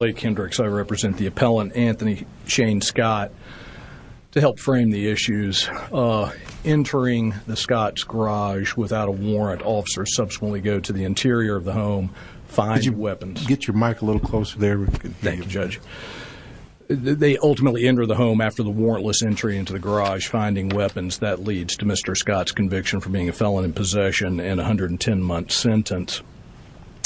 I represent the appellant, Anthony Shane Scott, to help frame the issues. Entering the Scott's garage without a warrant, officers subsequently go to the interior of the home, finding weapons. Could you get your mic a little closer there? Thank you, Judge. They ultimately enter the home after the warrantless entry into the garage, finding weapons. That leads to Mr. Scott's conviction for being a felon in possession and a 110-month sentence.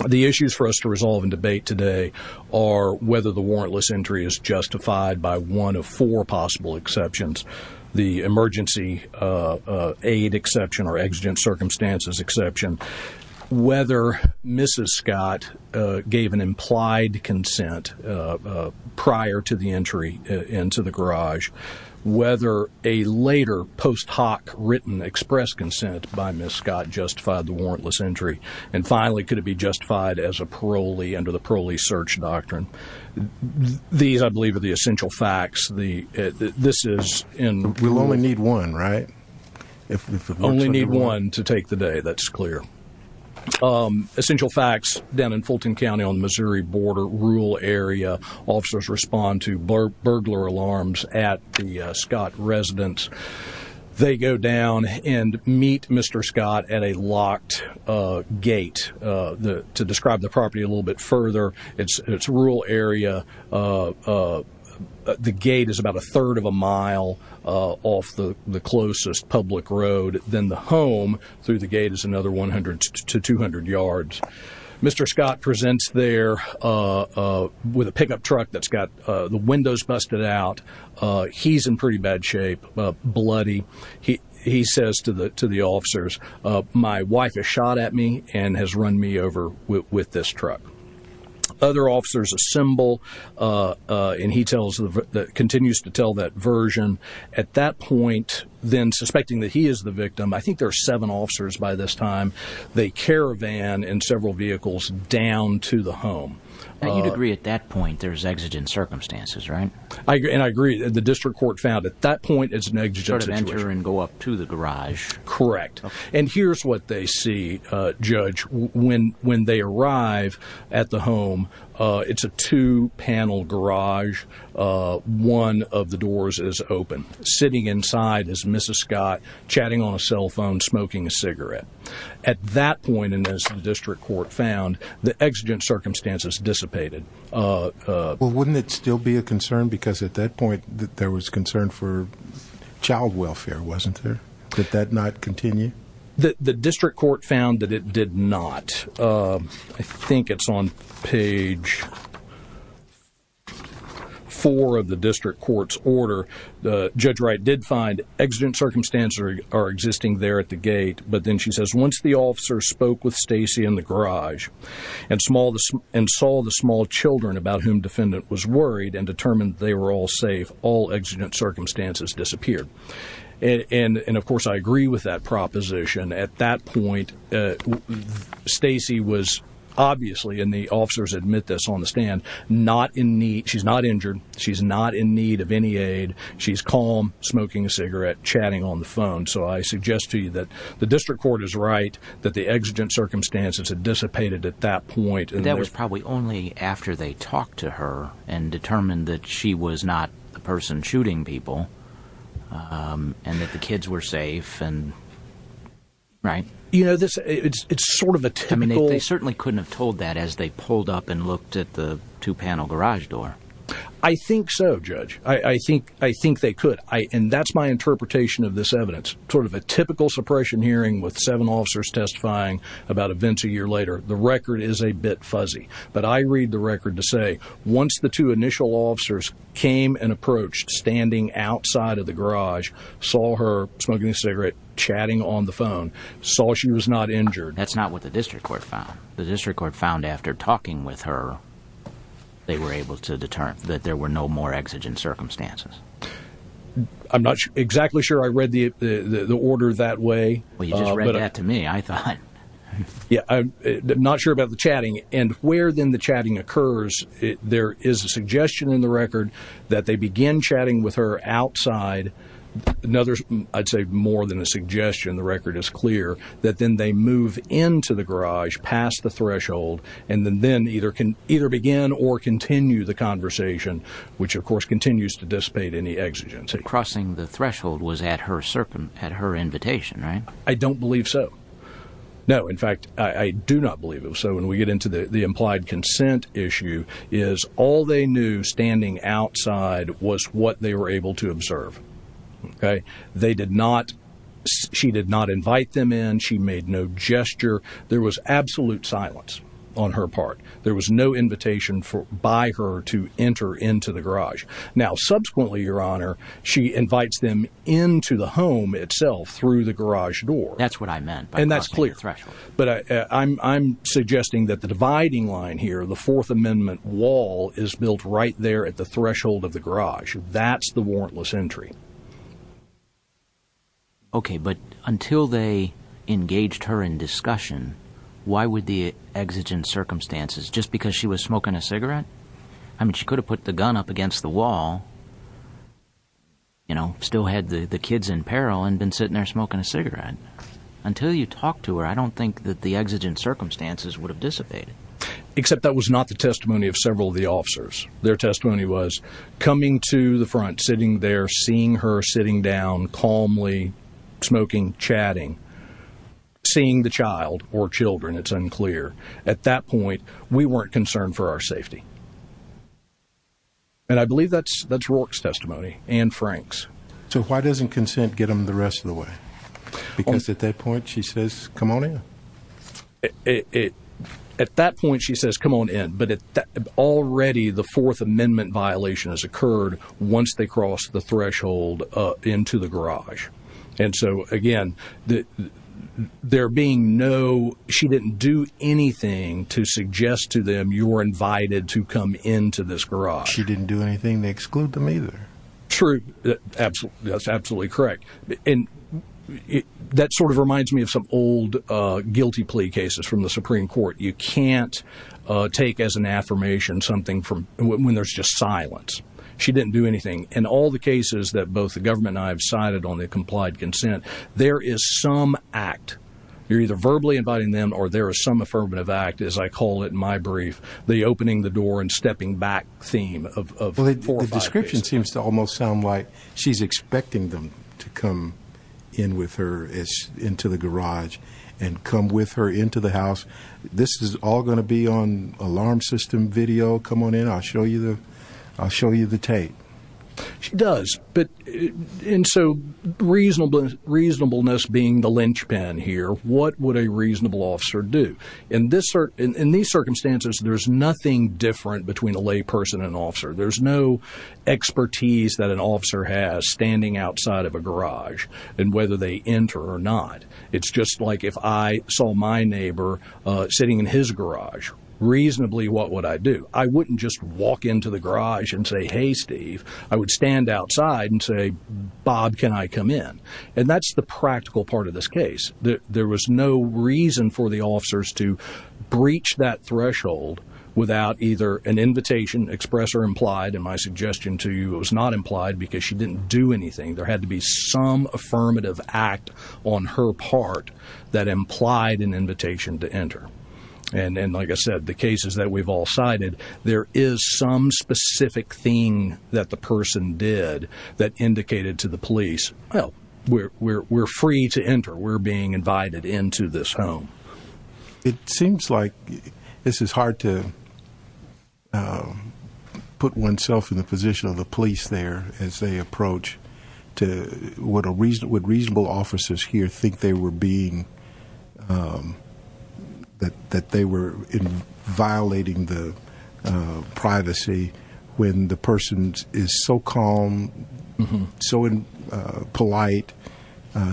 The issues for us to resolve and debate today are whether the warrantless entry is justified by one of four possible exceptions. The emergency aid exception or exigent circumstances exception. Whether Mrs. Scott gave an implied consent prior to the entry into the garage. Whether a later post hoc written express consent by Mrs. Scott justified the warrantless entry. And finally, could it be justified as a parolee under the parolee search doctrine. These, I believe, are the essential facts. We'll only need one, right? Only need one to take the day, that's clear. Essential facts down in Fulton County on the Missouri border, rural area. Officers respond to burglar alarms at the Scott residence. They go down and meet Mr. Scott at a locked gate. To describe the property a little bit further, it's a rural area. The gate is about a third of a mile off the closest public road. Then the home through the gate is another 100 to 200 yards. Mr. Scott presents there with a pickup truck that's got the windows busted out. He's in pretty bad shape, bloody. He says to the officers, my wife has shot at me and has run me over with this truck. Other officers assemble and he continues to tell that version. At that point, then suspecting that he is the victim, I think there are seven officers by this time. They caravan in several vehicles down to the home. You'd agree at that point there's exigent circumstances, right? I agree. The district court found at that point it's an exigent situation. They enter and go up to the garage. Correct. Here's what they see, Judge. When they arrive at the home, it's a two-panel garage. One of the doors is open. Sitting inside is Mrs. Scott chatting on a cell phone, smoking a cigarette. At that point, as the district court found, the exigent circumstances dissipated. Wouldn't it still be a concern because at that point there was concern for child welfare, wasn't there? Did that not continue? The district court found that it did not. I think it's on page four of the district court's order. Judge Wright did find exigent circumstances are existing there at the gate. Once the officer spoke with Stacy in the garage and saw the small children about whom the defendant was worried and determined they were all safe, all exigent circumstances disappeared. Of course, I agree with that proposition. At that point, Stacy was obviously, and the officers admit this on the stand, not in need. She's not injured. She's not in need of any aid. She's calm, smoking a cigarette, chatting on the phone. I suggest to you that the district court is right that the exigent circumstances had dissipated at that point. That was probably only after they talked to her and determined that she was not the person shooting people and that the kids were safe, right? It's sort of a typical... They certainly couldn't have told that as they pulled up and looked at the two-panel garage door. I think so, Judge. I think they could. And that's my interpretation of this evidence. Sort of a typical suppression hearing with seven officers testifying about events a year later. The record is a bit fuzzy. But I read the record to say once the two initial officers came and approached, standing outside of the garage, saw her smoking a cigarette, chatting on the phone, saw she was not injured... That's not what the district court found. The district court found after talking with her, they were able to determine that there were no more exigent circumstances. I'm not exactly sure I read the order that way. Well, you just read that to me, I thought. Yeah, I'm not sure about the chatting. And where then the chatting occurs, there is a suggestion in the record that they begin chatting with her outside. I'd say more than a suggestion. The record is clear that then they move into the garage past the threshold and then either begin or continue the conversation, which of course continues to dissipate any exigency. Crossing the threshold was at her invitation, right? I don't believe so. No, in fact, I do not believe it. So when we get into the implied consent issue is all they knew standing outside was what they were able to observe. They did not... she did not invite them in. She made no gesture. There was absolute silence on her part. There was no invitation by her to enter into the garage. Now, subsequently, Your Honor, she invites them into the home itself through the garage door. That's what I meant by crossing the threshold. And that's clear. But I'm suggesting that the dividing line here, the Fourth Amendment wall, is built right there at the threshold of the garage. That's the warrantless entry. Okay, but until they engaged her in discussion, why would the exigent circumstances, just because she was smoking a cigarette? I mean, she could have put the gun up against the wall, you know, still had the kids in peril and been sitting there smoking a cigarette. Until you talk to her, I don't think that the exigent circumstances would have dissipated. Except that was not the testimony of several of the officers. Their testimony was coming to the front, sitting there, seeing her sitting down calmly, smoking, chatting, seeing the child or children. It's unclear. At that point, we weren't concerned for our safety. And I believe that's Rourke's testimony and Frank's. So why doesn't consent get them the rest of the way? Because at that point, she says, come on in. At that point, she says, come on in. But already the Fourth Amendment violation has occurred once they crossed the threshold into the garage. And so, again, there being no, she didn't do anything to suggest to them you were invited to come into this garage. She didn't do anything to exclude them either. True. That's absolutely correct. And that sort of reminds me of some old guilty plea cases from the Supreme Court. You can't take as an affirmation something from when there's just silence. She didn't do anything. In all the cases that both the government and I have cited on the complied consent, there is some act. You're either verbally inviting them or there is some affirmative act, as I call it in my brief, the opening the door and stepping back theme of four or five cases. The description seems to almost sound like she's expecting them to come in with her into the garage and come with her into the house. This is all going to be on alarm system video. Come on in. I'll show you the I'll show you the tape. She does. But and so reasonable reasonableness being the linchpin here. What would a reasonable officer do in this in these circumstances? There's nothing different between a lay person and officer. There's no expertise that an officer has standing outside of a garage and whether they enter or not. It's just like if I saw my neighbor sitting in his garage, reasonably, what would I do? I wouldn't just walk into the garage and say, hey, Steve. I would stand outside and say, Bob, can I come in? And that's the practical part of this case. There was no reason for the officers to breach that threshold without either an invitation, express or implied. And my suggestion to you was not implied because she didn't do anything. There had to be some affirmative act on her part that implied an invitation to enter. And then, like I said, the cases that we've all cited, there is some specific thing that the person did that indicated to the police. Well, we're we're we're free to enter. We're being invited into this home. It seems like this is hard to put oneself in the position of the police there as they approach to what a reason would reasonable officers here think they were being. That that they were violating the privacy when the person is so calm, so polite,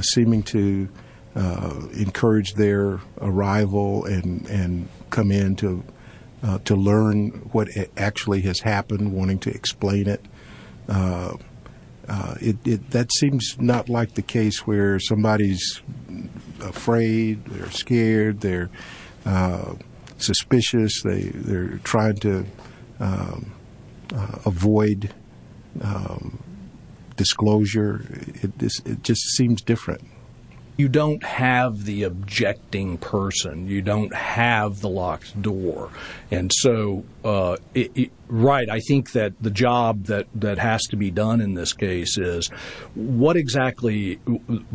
seeming to encourage their arrival and come in to to learn what actually has happened, wanting to explain it. It that seems not like the case where somebody is afraid. They're scared. They're suspicious. They they're trying to avoid disclosure. It just seems different. You don't have the objecting person. You don't have the locked door. And so, right. I think that the job that that has to be done in this case is what exactly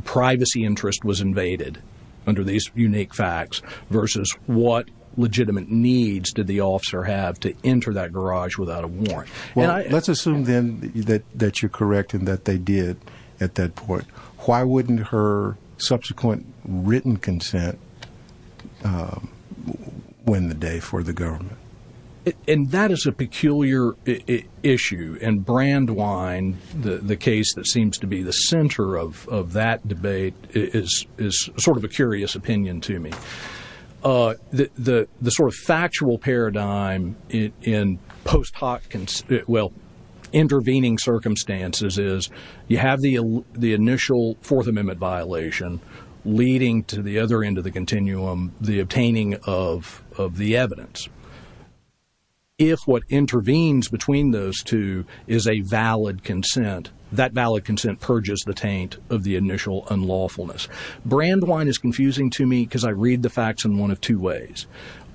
privacy interest was invaded under these unique facts versus what legitimate needs did the officer have to enter that garage without a warrant? Well, let's assume then that that you're correct and that they did at that point. Why wouldn't her subsequent written consent win the day for the government? And that is a peculiar issue and brand wine. The case that seems to be the center of that debate is is sort of a curious opinion to me. The sort of factual paradigm in post hoc. Well, intervening circumstances is you have the the initial Fourth Amendment violation leading to the other end of the continuum, the obtaining of of the evidence. If what intervenes between those two is a valid consent, that valid consent purges the taint of the initial unlawfulness. Brand wine is confusing to me because I read the facts in one of two ways.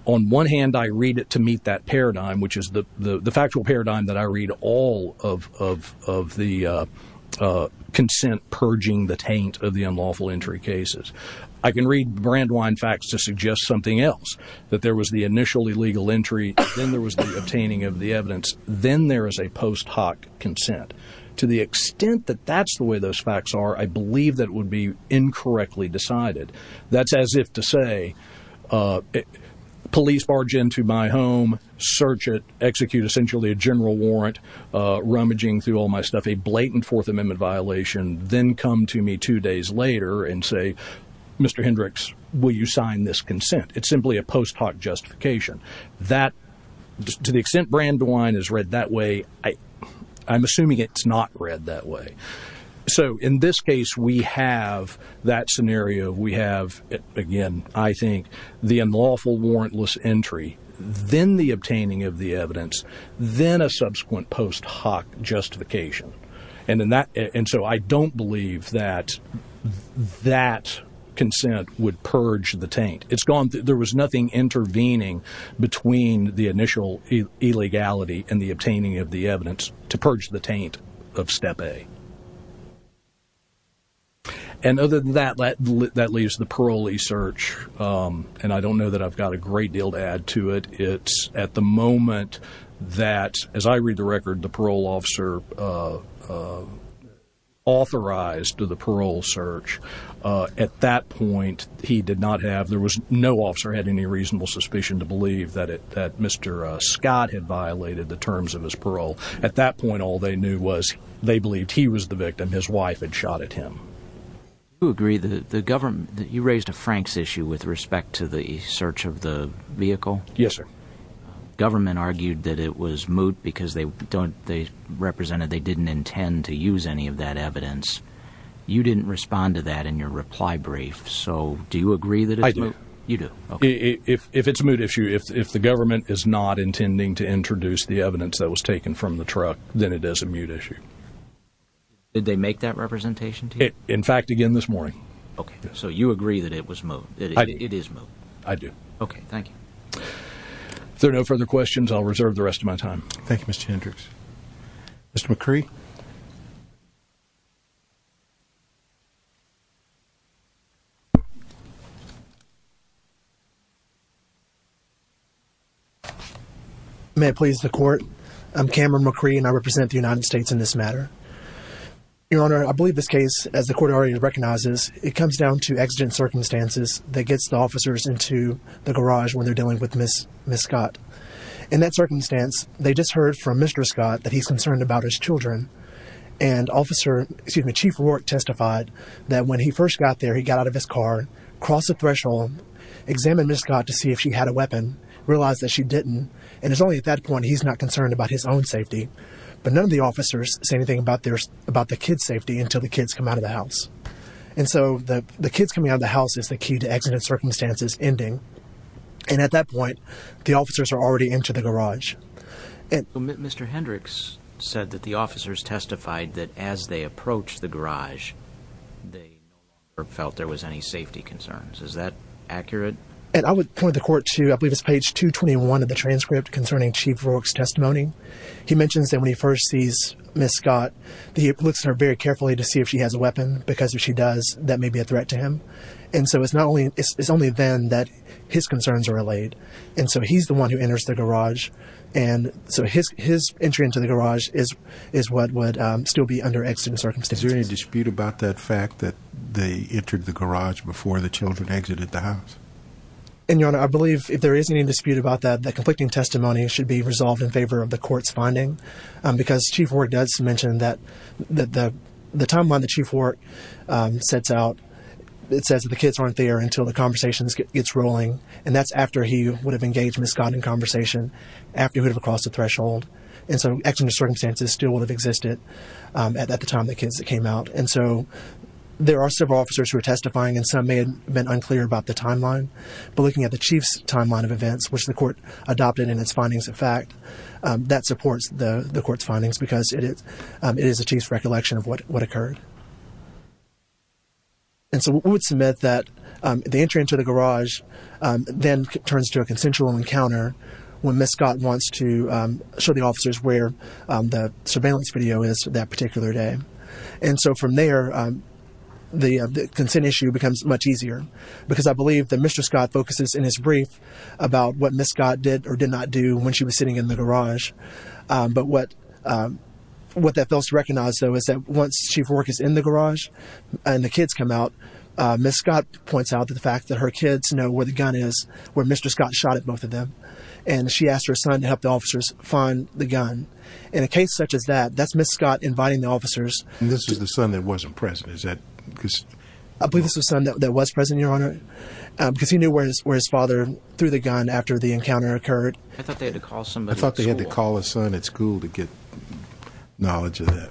On one hand, I read it to meet that paradigm, which is the factual paradigm that I read all of of of the consent purging the taint of the unlawful entry cases. I can read brand wine facts to suggest something else, that there was the initial illegal entry. Then there was the obtaining of the evidence. Then there is a post hoc consent. To the extent that that's the way those facts are, I believe that would be incorrectly decided. That's as if to say police barge into my home, search it, execute essentially a general warrant, rummaging through all my stuff, a blatant Fourth Amendment violation. Then come to me two days later and say, Mr. Hendricks, will you sign this consent? It's simply a post hoc justification that to the extent brand wine is read that way. I'm assuming it's not read that way. So in this case, we have that scenario. We have, again, I think, the unlawful warrantless entry, then the obtaining of the evidence, then a subsequent post hoc justification. And so I don't believe that that consent would purge the taint. There was nothing intervening between the initial illegality and the obtaining of the evidence to purge the taint of Step A. And other than that, that leaves the parolee search. And I don't know that I've got a great deal to add to it. It's at the moment that, as I read the record, the parole officer authorized the parole search. At that point, he did not have, there was no officer had any reasonable suspicion to believe that Mr. Scott had violated the terms of his parole. At that point, all they knew was they believed he was the victim. His wife had shot at him. You raised a Franks issue with respect to the search of the vehicle. Yes, sir. Government argued that it was moot because they represented they didn't intend to use any of that evidence. You didn't respond to that in your reply brief. So do you agree that you do? If it's a moot issue, if the government is not intending to introduce the evidence that was taken from the truck, then it is a moot issue. Did they make that representation? In fact, again this morning. OK, so you agree that it was moot. It is moot. I do. OK, thank you. If there are no further questions, I'll reserve the rest of my time. Thank you, Mr. Hendricks. Mr. McCree. May it please the court. I'm Cameron McCree, and I represent the United States in this matter. Your Honor, I believe this case, as the court already recognizes, it comes down to exigent circumstances that gets the officers into the garage when they're dealing with Ms. Scott. In that circumstance, they just heard from Mr. Scott that he's concerned about his children. And Chief Rourke testified that when he first got there, he got out of his car, crossed the threshold, examined Ms. Scott to see if she had a weapon, realized that she didn't. And it's only at that point he's not concerned about his own safety. But none of the officers say anything about the kids' safety until the kids come out of the house. And so the kids coming out of the house is the key to exigent circumstances ending. And at that point, the officers are already into the garage. Mr. Hendricks said that the officers testified that as they approached the garage, they never felt there was any safety concerns. Is that accurate? And I would point the court to, I believe it's page 221 of the transcript concerning Chief Rourke's testimony. He mentions that when he first sees Ms. Scott, he looks at her very carefully to see if she has a weapon, because if she does, that may be a threat to him. And so it's only then that his concerns are allayed. And so he's the one who enters the garage. And so his entry into the garage is what would still be under exigent circumstances. Is there any dispute about that fact that they entered the garage before the children exited the house? And, Your Honor, I believe if there is any dispute about that, the conflicting testimony should be resolved in favor of the court's finding. Because Chief Rourke does mention that the timeline that Chief Rourke sets out, it says that the kids aren't there until the conversation gets rolling. And that's after he would have engaged Ms. Scott in conversation, after he would have crossed the threshold. And so exigent circumstances still would have existed at the time the kids came out. And so there are several officers who are testifying, and some may have been unclear about the timeline. But looking at the Chief's timeline of events, which the court adopted in its findings of fact, that supports the court's findings because it is the Chief's recollection of what occurred. And so we would submit that the entry into the garage then turns to a consensual encounter when Ms. Scott wants to show the officers where the surveillance video is that particular day. And so from there, the consent issue becomes much easier. Because I believe that Mr. Scott focuses in his brief about what Ms. Scott did or did not do when she was sitting in the garage. But what that fails to recognize, though, is that once Chief Rourke is in the garage and the kids come out, Ms. Scott points out the fact that her kids know where the gun is, where Mr. Scott shot at both of them. And she asked her son to help the officers find the gun. In a case such as that, that's Ms. Scott inviting the officers. And this was the son that wasn't present. Is that because... I believe this was the son that was present, Your Honor, because he knew where his father threw the gun after the encounter occurred. I thought they had to call somebody at school. I thought they had to call a son at school to get knowledge of that.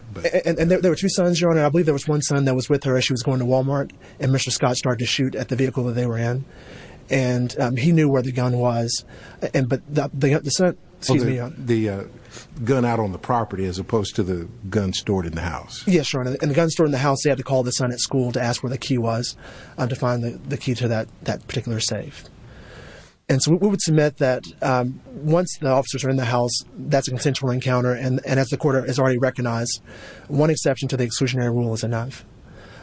And there were two sons, Your Honor. I believe there was one son that was with her as she was going to Walmart, and Mr. Scott started to shoot at the vehicle that they were in. And he knew where the gun was. The gun out on the property as opposed to the gun stored in the house. Yes, Your Honor. And the gun stored in the house, they had to call the son at school to ask where the key was to find the key to that particular safe. And so we would submit that once the officers are in the house, that's a consensual encounter. And as the court has already recognized, one exception to the exclusionary rule is enough.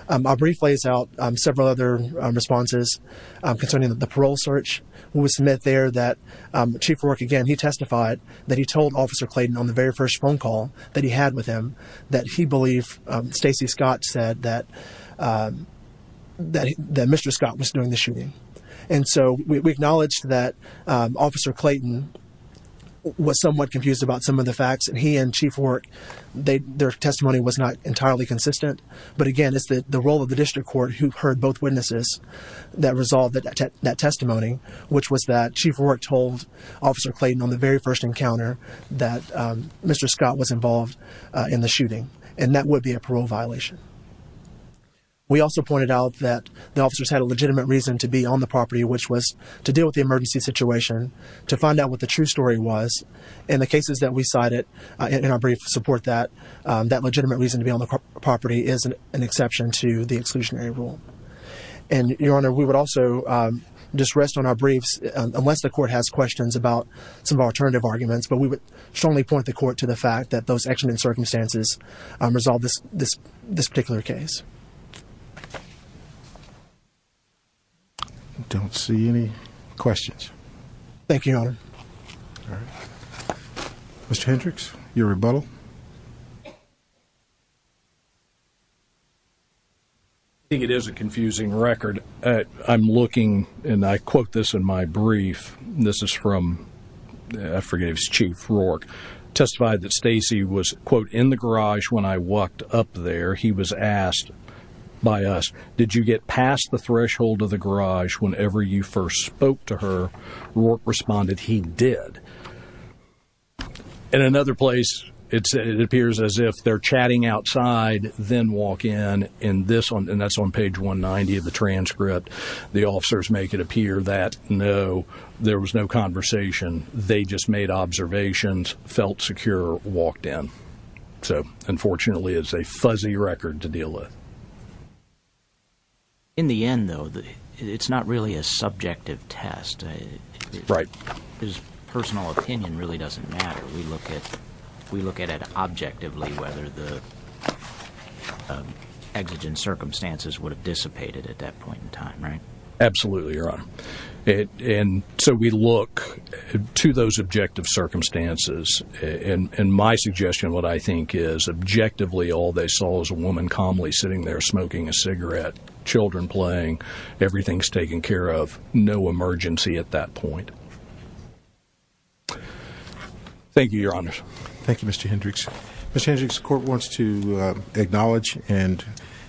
I'll briefly lay out several other responses concerning the parole search. We submit there that Chief Warwick, again, he testified that he told Officer Clayton on the very first phone call that he had with him that he believed Stacey Scott said that Mr. Scott was doing the shooting. And so we acknowledge that Officer Clayton was somewhat confused about some of the facts. And he and Chief Warwick, their testimony was not entirely consistent. But again, it's the role of the district court who heard both witnesses that resolved that testimony, which was that Chief Warwick told Officer Clayton on the very first encounter that Mr. Scott was involved in the shooting. And that would be a parole violation. We also pointed out that the officers had a legitimate reason to be on the property, which was to deal with the emergency situation, to find out what the true story was. And the cases that we cited in our brief support that. That legitimate reason to be on the property is an exception to the exclusionary rule. And, Your Honor, we would also just rest on our briefs unless the court has questions about some of our alternative arguments. But we would strongly point the court to the fact that those accident circumstances resolved this particular case. I don't see any questions. Thank you, Your Honor. All right. Mr. Hendricks, your rebuttal. I think it is a confusing record. I'm looking, and I quote this in my brief. This is from, I forget if it's Chief Warwick, testified that Stacy was, quote, in the garage when I walked up there. He was asked by us, did you get past the threshold of the garage whenever you first spoke to her? Warwick responded, he did. In another place, it appears as if they're chatting outside, then walk in, and that's on page 190 of the transcript. The officers make it appear that, no, there was no conversation. They just made observations, felt secure, walked in. So, unfortunately, it's a fuzzy record to deal with. In the end, though, it's not really a subjective test. Right. His personal opinion really doesn't matter. We look at it objectively whether the exigent circumstances would have dissipated at that point in time, right? Absolutely, Your Honor. And so we look to those objective circumstances. And my suggestion, what I think, is objectively all they saw was a woman calmly sitting there smoking a cigarette, children playing, everything's taken care of. No emergency at that point. Thank you, Your Honor. Thank you, Mr. Hendricks. Mr. Hendricks, the court wants to acknowledge and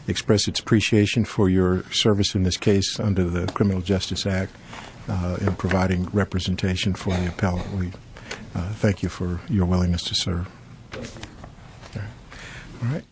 express its appreciation for your service in this case under the Criminal Justice Act in providing representation for the appellate. Thank you for your willingness to serve. All right.